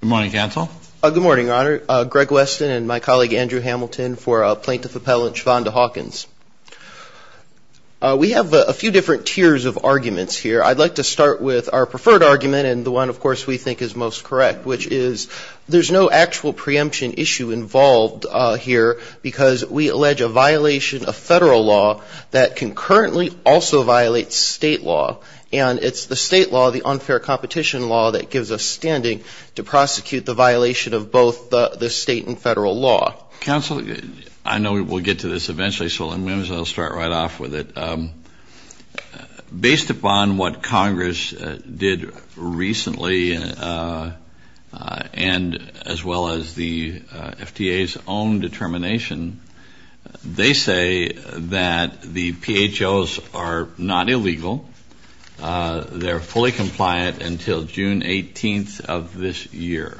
Good morning, Counsel. Good morning, Your Honor. Greg Weston and my colleague Andrew Hamilton for Plaintiff Appellant Shavonda Hawkins. We have a few different tiers of arguments here. I'd like to start with our preferred argument and the one, of course, we think is most correct, which is there's no actual preemption issue involved here because we allege a violation of federal law that concurrently also violates state law. And it's the state law, the unfair competition law, that gives us standing to prosecute the violation of both the state and federal law. Counsel, I know we'll get to this eventually, so I'll start right off with it. Based upon what Congress did recently and as well as the FTA's own determination, they say that the PHOs are not illegal, they're fully compliant until June 18th of this year.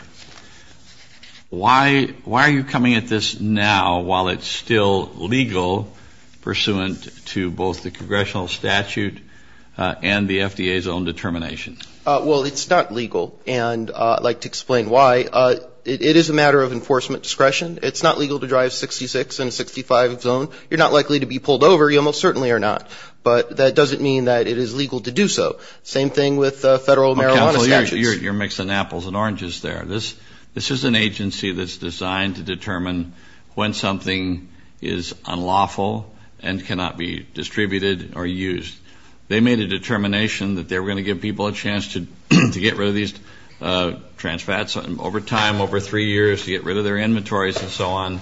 Why are you coming at this now while it's still legal pursuant to both the congressional statute and the FDA's own determination? Well, it's not legal, and I'd like to explain why. It is a matter of enforcement discretion. It's not legal to drive 66 in a 65 zone. You're not likely to be pulled over, you almost certainly are not. But that doesn't mean that it is legal to do so. Same thing with federal marijuana statutes. Counsel, you're mixing apples and oranges there. This is an agency that's designed to determine when something is unlawful and cannot be distributed or used. They made a determination that they were going to give people a chance to get rid of these trans fats over time, over three years, to get rid of their inventories and so on.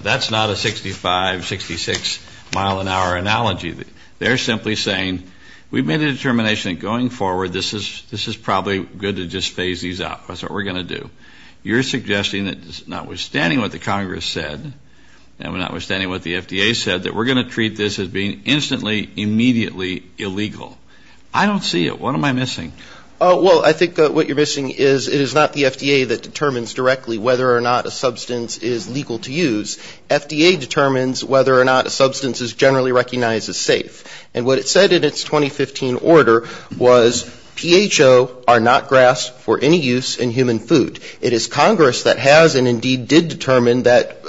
That's not a 65, 66 mile an hour analogy. They're simply saying we've made a determination that going forward, this is probably good to just phase these out. That's what we're going to do. You're suggesting that notwithstanding what the Congress said and notwithstanding what the FDA said, that we're going to treat this as being instantly, immediately illegal. I don't see it. What am I missing? Well, I think what you're missing is it is not the FDA that determines directly whether or not a substance is legal to use. FDA determines whether or not a substance is generally recognized as safe. And what it said in its 2015 order was PHO are not grass for any use in human food. It is Congress that has and indeed did determine that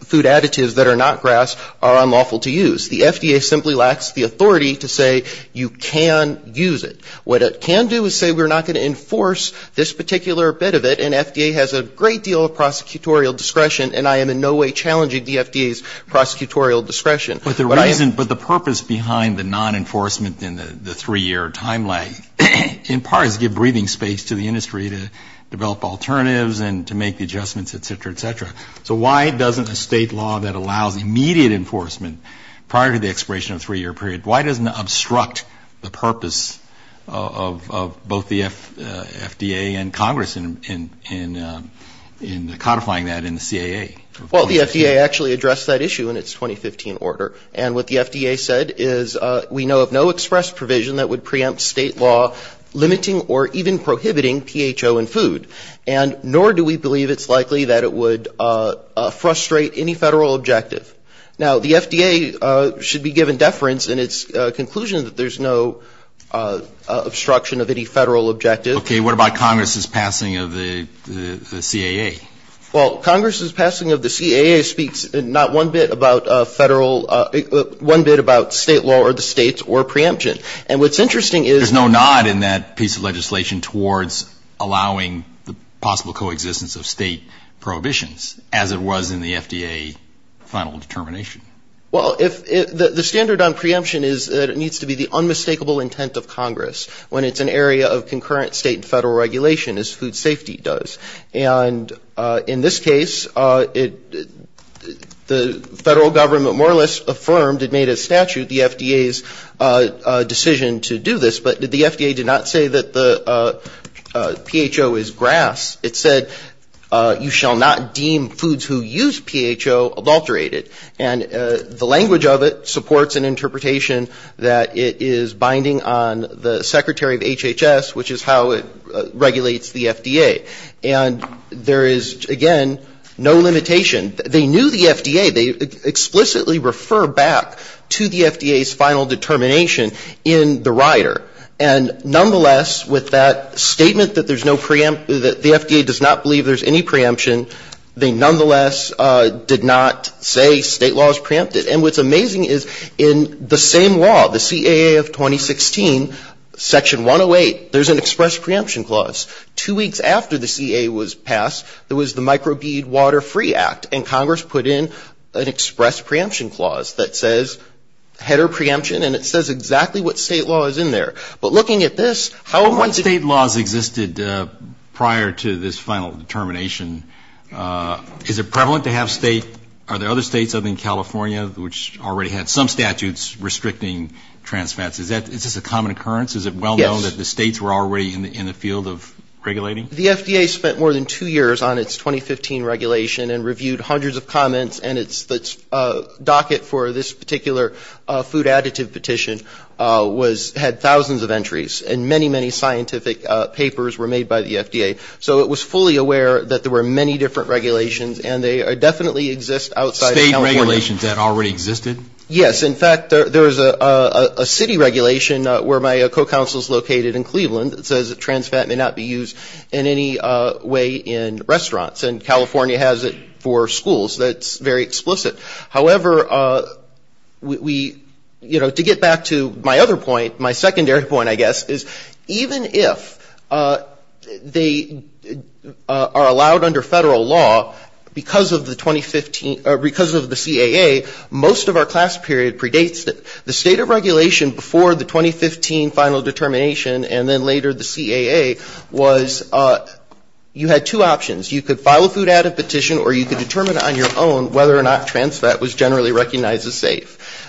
food additives that are not grass are unlawful to use. The FDA simply lacks the authority to say you can use it. What it can do is say we're not going to enforce this particular bit of it, and FDA has a great deal of prosecutorial discretion, and I am in no way challenging the FDA's prosecutorial discretion. But the reason, but the purpose behind the non-enforcement in the three-year time lag in part is to give breathing space to the industry to develop alternatives and to make the adjustments, et cetera, et cetera. So why doesn't a state law that allows immediate enforcement prior to the expiration of a three-year period, why doesn't it obstruct the purpose of both the FDA and Congress in codifying that in the CAA? Well, the FDA actually addressed that issue in its 2015 order. And what the FDA said is we know of no express provision that would preempt state law limiting or even prohibiting PHO in food. And nor do we believe it's likely that it would frustrate any federal objective. Now, the FDA should be given deference in its conclusion that there's no obstruction of any federal objective. Okay. What about Congress's passing of the CAA? Well, Congress's passing of the CAA speaks not one bit about federal, one bit about state law or the states or preemption. And what's interesting is no nod in that piece of legislation towards allowing the possible coexistence of state prohibitions, as it was in the FDA final determination. Well, the standard on preemption is that it needs to be the unmistakable intent of Congress, when it's an area of concurrent state and federal regulation, as food safety does. And in this case, the federal government more or less affirmed, it made a statute, the FDA's decision to do this, but the FDA did not say that the PHO is grass. It said you shall not deem foods who use PHO adulterated. And the language of it supports an interpretation that it is binding on the secretary of HHS, which is how it regulates the FDA. And there is, again, no limitation. They knew the FDA. They explicitly refer back to the FDA's final determination in the rider. And nonetheless, with that statement that there's no preemption, that the FDA does not believe there's any preemption, they nonetheless did not say state law is preempted. And what's amazing is in the same law, the CAA of 2016, Section 108, there's an express preemption clause. And Congress put in an express preemption clause that says header preemption, and it says exactly what state law is in there. But looking at this, how one state laws existed prior to this final determination, is it prevalent to have state, are there other states other than California, which already had some statutes restricting trans fats? Is this a common occurrence? Is it well known that the states were already in the field of regulating? The FDA spent more than two years on its 2015 regulation and reviewed hundreds of comments, and its docket for this particular food additive petition had thousands of entries. And many, many scientific papers were made by the FDA. So it was fully aware that there were many different regulations, and they definitely exist outside of California. Are there other regulations that already existed? Yes. In fact, there is a city regulation where my co-counsel is located in Cleveland that says that trans fat may not be used in any way in restaurants. And California has it for schools. That's very explicit. However, we, you know, to get back to my other point, my secondary point, I guess, is even if they are allowed under Federal law because of the 2015, because of the CAA, most of our class period predates it. The state of regulation before the 2015 final determination and then later the CAA was you had two options. You could file a food additive petition or you could determine on your own whether or not trans fat was generally recognized as safe.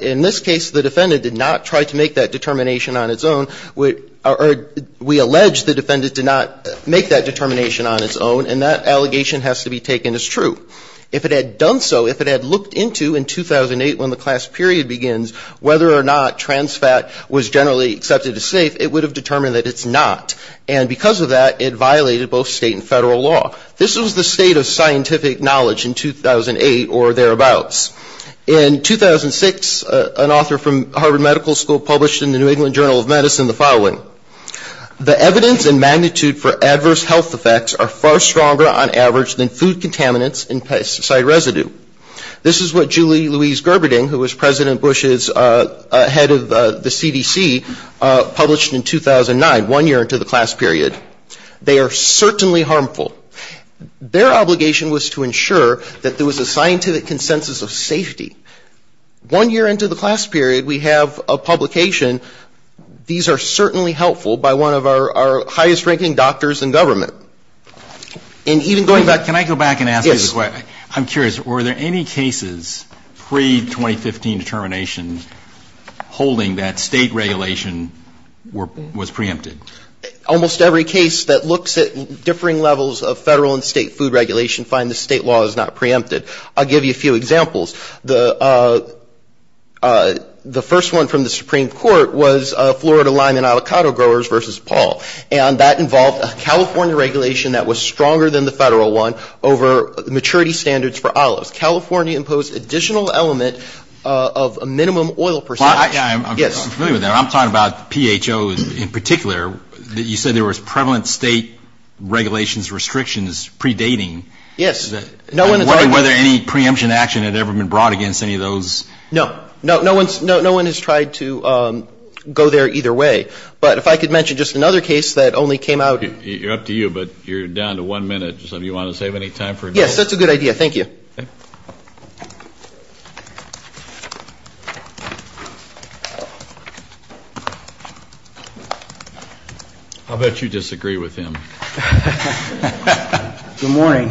In this case, the defendant did not try to make that determination on its own. We allege the defendant did not make that determination on its own, and that allegation has to be taken as true. If it had done so, if it had looked into in 2008 when the class period begins, whether or not trans fat was generally accepted as safe, it would have determined that it's not. And because of that, it violated both state and Federal law. This was the state of scientific knowledge in 2008 or thereabouts. In 2006, an author from Harvard Medical School published in the New England Journal of Medicine the following. The evidence and magnitude for adverse health effects are far stronger on average than food contaminants and pesticide residue. This is what Julie Louise Gerberding, who was President Bush's head of the CDC, published in 2009, one year into the class period. They are certainly harmful. Their obligation was to ensure that there was a scientific consensus of safety. One year into the class period, we have a publication. These are certainly helpful by one of our highest-ranking doctors in government. And even going back to the question, I'm curious, were there any cases pre-2015 determination holding that state regulation was preempted? Almost every case that looks at differing levels of Federal and state food regulation find the state law is not preempted. I'll give you a few examples. The first one from the Supreme Court was Florida lime and avocado growers versus Paul. And that involved a California regulation that was stronger than the Federal one over maturity standards for olives. California imposed additional element of a minimum oil percentage. I'm familiar with that. I'm talking about PHOs in particular. You said there was prevalent state regulations restrictions predating. I'm wondering whether any preemption action had ever been brought against any of those. No. No one has tried to go there either way. But if I could mention just another case that only came out. You're up to you, but you're down to one minute. Yes, that's a good idea. Thank you. I'll bet you disagree with him. Good morning.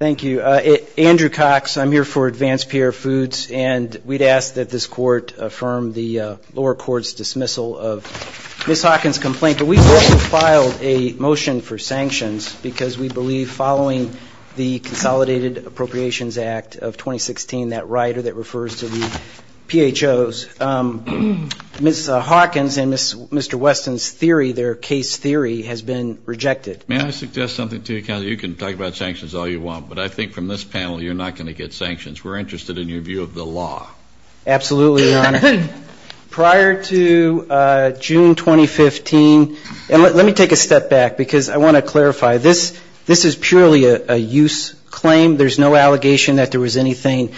Thank you. Andrew Cox, I'm here for Advanced PR Foods, and we'd ask that this Court affirm the lower court's dismissal of Ms. Hawkins' complaint. But we've also filed a motion for sanctions because we believe following the Consolidated Appropriations Act of 2016, that rider that refers to the PHOs, Ms. Hawkins and Mr. Weston's theory, their case theory, has been rejected. Let me suggest something to you, Counselor. You can talk about sanctions all you want, but I think from this panel you're not going to get sanctions. We're interested in your view of the law. Absolutely, Your Honor. Prior to June 2015, and let me take a step back because I want to clarify, this is purely a use claim. There's no allegation that there was anything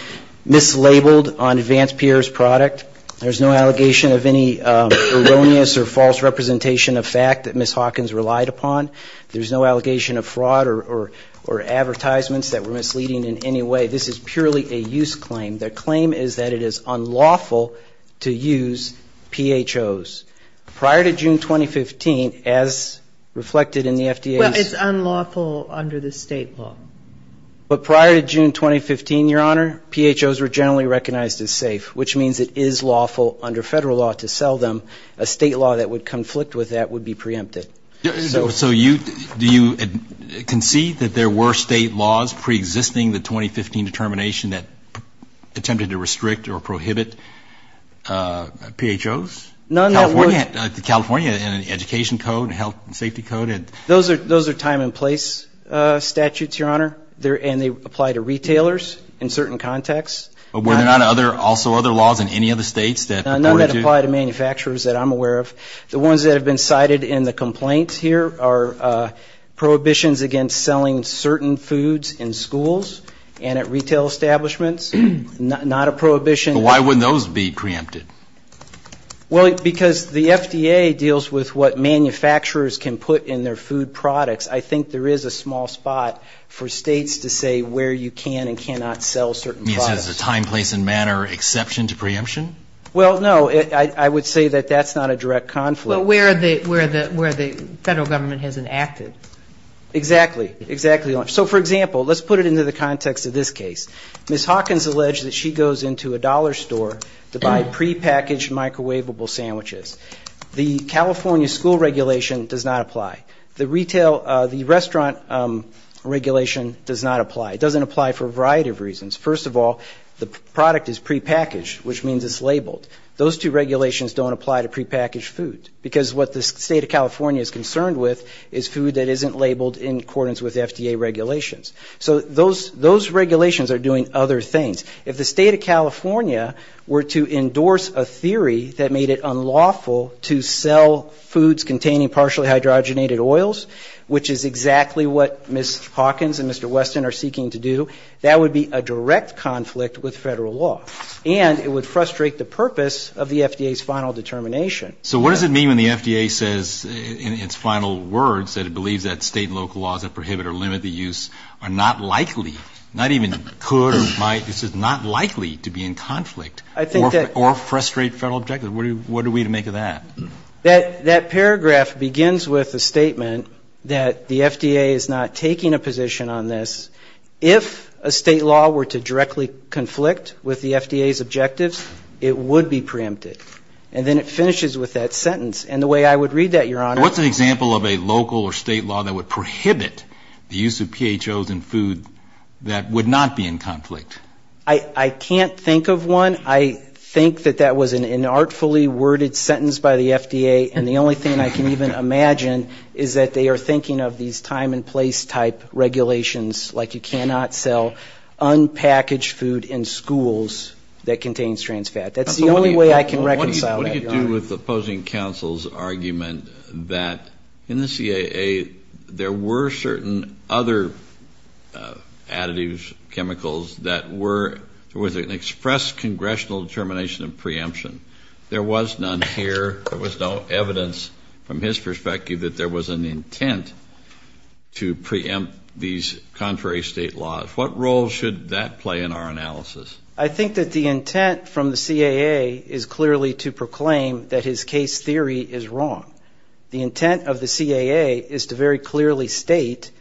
mislabeled on Advanced PR's product. There's no allegation of any erroneous or false representation of fact that Ms. Hawkins relied upon. There's no allegation of fraud or advertisements that were misleading in any way. This is purely a use claim. The claim is that it is unlawful to use PHOs. Prior to June 2015, as reflected in the FDA's ---- Well, it's unlawful under the State law. But prior to June 2015, Your Honor, PHOs were generally recognized as safe, which means it is lawful under Federal law to sell them. A State law that would conflict with that would be preempted. So do you concede that there were State laws preexisting the 2015 determination that attempted to restrict or prohibit PHOs? None that would ---- Those are time and place statutes, Your Honor. And they apply to retailers in certain contexts. None that apply to manufacturers that I'm aware of. The ones that have been cited in the complaints here are prohibitions against selling certain foods in schools and at retail establishments. Not a prohibition. But why wouldn't those be preempted? Well, because the FDA deals with what manufacturers can put in their food products. I think there is a small spot for States to say where you can and cannot sell certain products. You mean it's just a time, place and manner exception to preemption? Well, no. I would say that that's not a direct conflict. Well, where the Federal Government hasn't acted. Exactly. Exactly. So, for example, let's put it into the context of this case. Ms. Hawkins alleged that she goes into a dollar store to buy prepackaged microwavable sandwiches. The California school regulation does not apply. The restaurant regulation does not apply. It doesn't apply for a variety of reasons. First of all, the product is prepackaged, which means it's labeled. Those two regulations don't apply to prepackaged food, because what the State of California is concerned with is food that isn't labeled in accordance with FDA regulations. So those regulations are doing other things. If the State of California were to endorse a theory that made it unlawful to sell foods containing partially hydrogenated oils, which is exactly what Ms. Hawkins and Mr. Weston are seeking to do, that would be a direct conflict with Federal law. And it would frustrate the purpose of the FDA's final determination. So what does it mean when the FDA says in its final words that it believes that State and local laws that prohibit or limit the use are not likely, not even could or might, this is not likely to be in conflict or frustrate Federal objectives? What are we to make of that? That paragraph begins with a statement that the FDA is not taking a position on this. If a State law were to directly conflict with the FDA's objectives, it would be preempted. And then it finishes with that sentence. And the way I would read that, Your Honor ---- What's an example of a local or State law that would prohibit the use of PHOs in food that would not be in conflict? And the only thing I can even imagine is that they are thinking of these time and place type regulations, like you cannot sell unpackaged food in schools that contains trans fat. That's the only way I can reconcile that, Your Honor. What do you do with opposing counsel's argument that in the CAA there were certain other additives, chemicals, that were an express congressional determination of preemption? There was none here, there was no evidence from his perspective that there was an intent to preempt these contrary State laws. What role should that play in our analysis? I think that the intent from the CAA is clearly to proclaim that his case theory is wrong. The intent of the CAA is to very clearly state,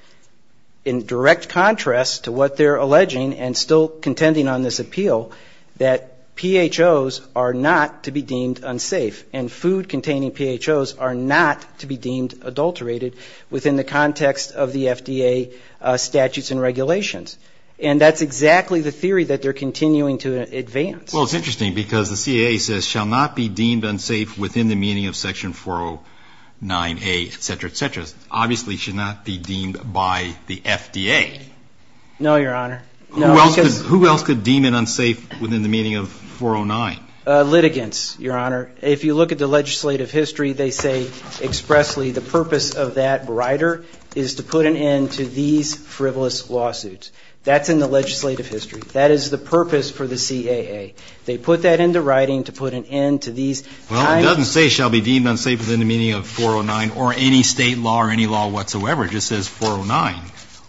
in direct contrast to what they're alleging and still contending on this appeal, that PHOs are not to be deemed unsafe and food containing PHOs are not to be deemed adulterated within the context of the FDA statutes and regulations. And that's exactly the theory that they're continuing to advance. Well, it's interesting because the CAA says shall not be deemed unsafe within the meaning of Section 409A, et cetera, et cetera. Obviously it should not be deemed by the FDA. No, Your Honor. Who else could deem it unsafe within the meaning of 409? Litigants, Your Honor. If you look at the legislative history, they say expressly the purpose of that rider is to put an end to these frivolous lawsuits. That's in the legislative history. That is the purpose for the CAA. They put that into writing to put an end to these. Well, it doesn't say shall be deemed unsafe within the meaning of 409 or any state law or any law whatsoever. It just says 409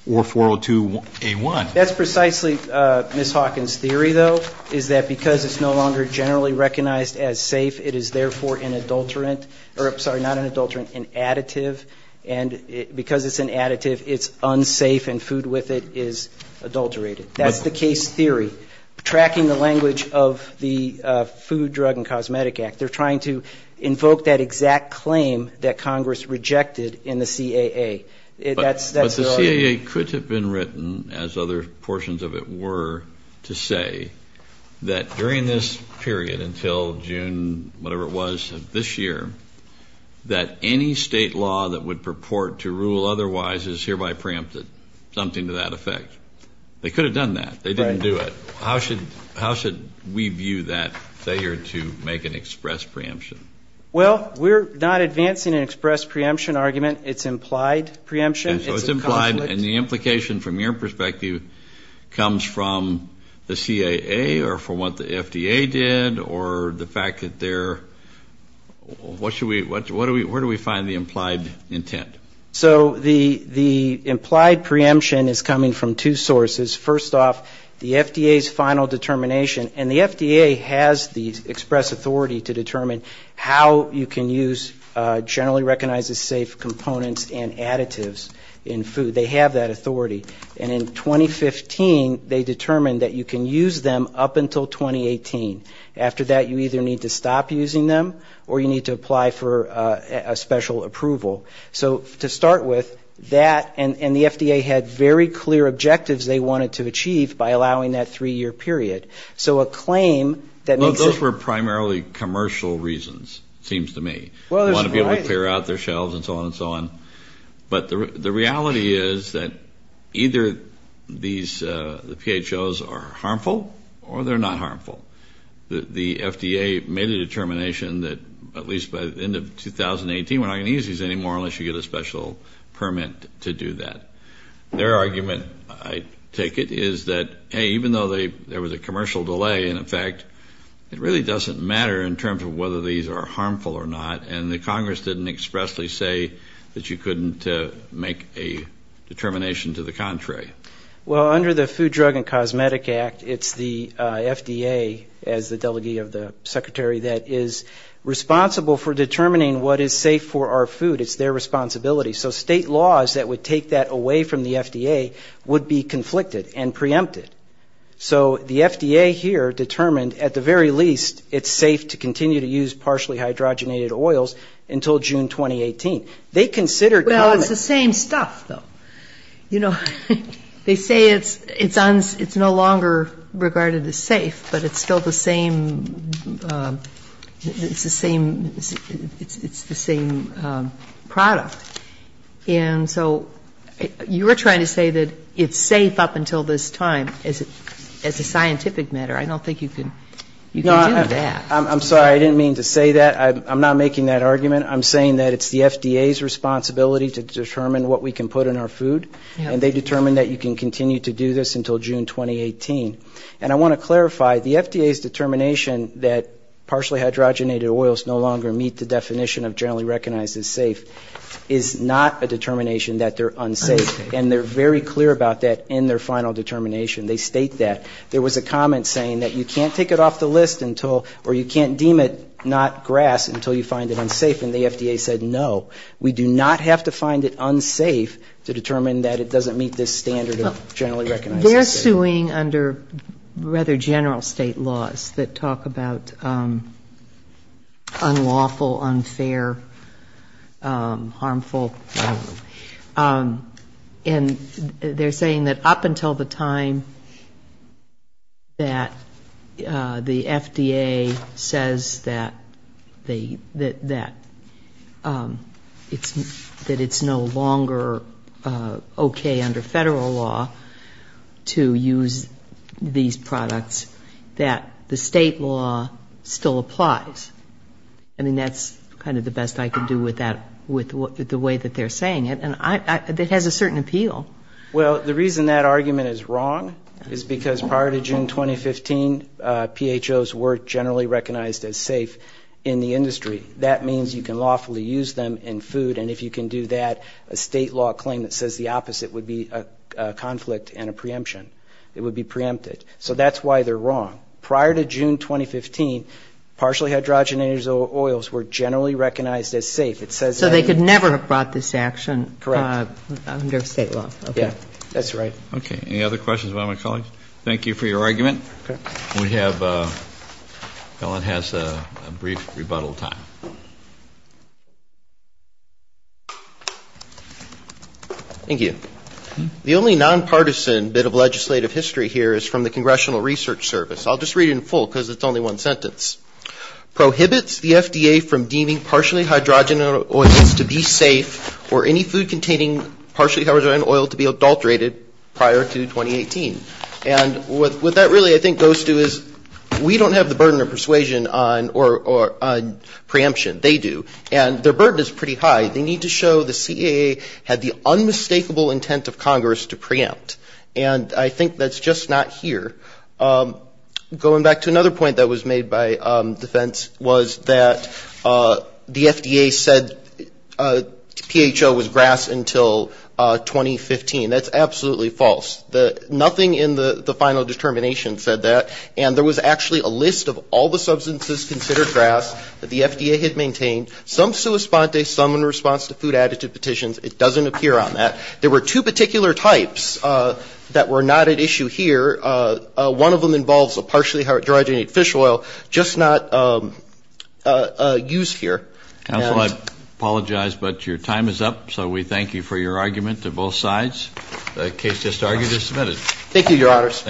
or 402A1. That's precisely Ms. Hawkins' theory, though, is that because it's no longer generally recognized as safe, it is therefore an adulterant or, sorry, not an adulterant, an additive, and because it's an additive, it's unsafe and food with it is adulterated. That's the case theory. It's trying to invoke that exact claim that Congress rejected in the CAA. But the CAA could have been written, as other portions of it were, to say that during this period until June, whatever it was, of this year, that any state law that would purport to rule otherwise is hereby preempted, something to that effect. They could have done that. They didn't do it. So what's the implication of the preemption? Well, we're not advancing an express preemption argument. It's implied preemption. It's a conflict. So it's implied, and the implication from your perspective comes from the CAA or from what the FDA did or the fact that they're, what should we, where do we find the implied intent? So the implied preemption is coming from two sources. First off, the FDA's final determination. And the FDA has the express authority to determine how you can use generally recognized as safe components and additives in food. They have that authority. And in 2015, they determined that you can use them up until 2018. After that, you either need to stop using them or you need to apply for a special approval. So to start with, that, and the FDA had very clear objectives they wanted to achieve by allowing that three-year period. So a claim that makes it... Well, those were primarily commercial reasons, it seems to me. You want to be able to clear out their shelves and so on and so on. But the reality is that either the PHOs are harmful or they're not harmful. The FDA made a determination that at least by the end of 2018, we're not going to use these anymore unless you get a special permit to do that. Their argument, I take it, is that, hey, even though there was a commercial delay, in effect, it really doesn't matter in terms of whether these are harmful or not. And the Congress didn't expressly say that you couldn't make a determination to the contrary. Well, under the Food, Drug and Cosmetic Act, it's the FDA, as the Delegate of the Secretary, that is responsible for determining what is safe for our food. It's their responsibility. So state laws that would take that away from the FDA would be conflicted and preempted. So the FDA here determined at the very least it's safe to continue to use partially hydrogenated oils until June 2018. They considered... Well, it's the same stuff, though. You know, they say it's no longer regarded as safe, but it's still the same product. And so you are trying to say that it's safe up until this time as a scientific matter. I don't think you can do that. I'm sorry, I didn't mean to say that. I'm not making that argument. I'm saying that it's the FDA's responsibility to determine what we can put in our food, and they determined that you can continue to do this until June 2018. And I want to clarify, the FDA's determination that partially hydrogenated oils no longer meet the definition of generally recognized as safe is not a determination that they're unsafe. And they're very clear about that in their final determination. They state that. There was a comment saying that you can't take it off the list until, or you can't deem it not grass until you find it unsafe, and the FDA said no. We do not have to find it unsafe to determine that it doesn't meet this standard of generally recognized as safe. They're suing under rather general state laws that talk about unlawful, unfair, harmful. And they're saying that up until the time that the FDA says that it's no longer okay under federal law to use these products, that the state law still applies. I mean, that's kind of the best I can do with that, with the way that they're saying it. And it has a certain appeal. Well, the reason that argument is wrong is because prior to June 2015, PHOs were generally recognized as safe in the industry. That means you can lawfully use them in food, and if you can do that, a state law claim that says the opposite would be a conflict and a preemption. It would be preempted. So that's why they're wrong. And the reason that argument is wrong is because prior to June 2015, PHOs were generally recognized as safe. So they could never have brought this to action under state law. Yeah, that's right. Okay. Any other questions about my colleagues? Thank you for your argument. We have, Ellen has a brief rebuttal time. Thank you. The only nonpartisan bit of legislative history here is from the Congressional Research Service. I'll just read it in full, because it's only one sentence. Prohibits the FDA from deeming partially hydrogenated oils to be safe, or any food containing partially hydrogenated oil to be adulterated prior to 2018. And what that really, I think, goes to is we don't have the burden of persuasion on preemption. They do. And their burden is pretty high. They need to show the CAA had the unmistakable intent of Congress to preempt. And I think that's just not here. Going back to another point that was made by defense was that the FDA said PHO was grass until 2015. That's absolutely false. Nothing in the final determination said that. And there was actually a list of all the substances considered grass that the FDA had maintained. Some sui sponte, some in response to food additive petitions. It doesn't appear on that. There were two particular types that were not at issue here. One of them involves a partially hydrogenated fish oil, just not used here. Counsel, I apologize, but your time is up, so we thank you for your argument to both sides. The case just argued is submitted. Thank you, Your Honors.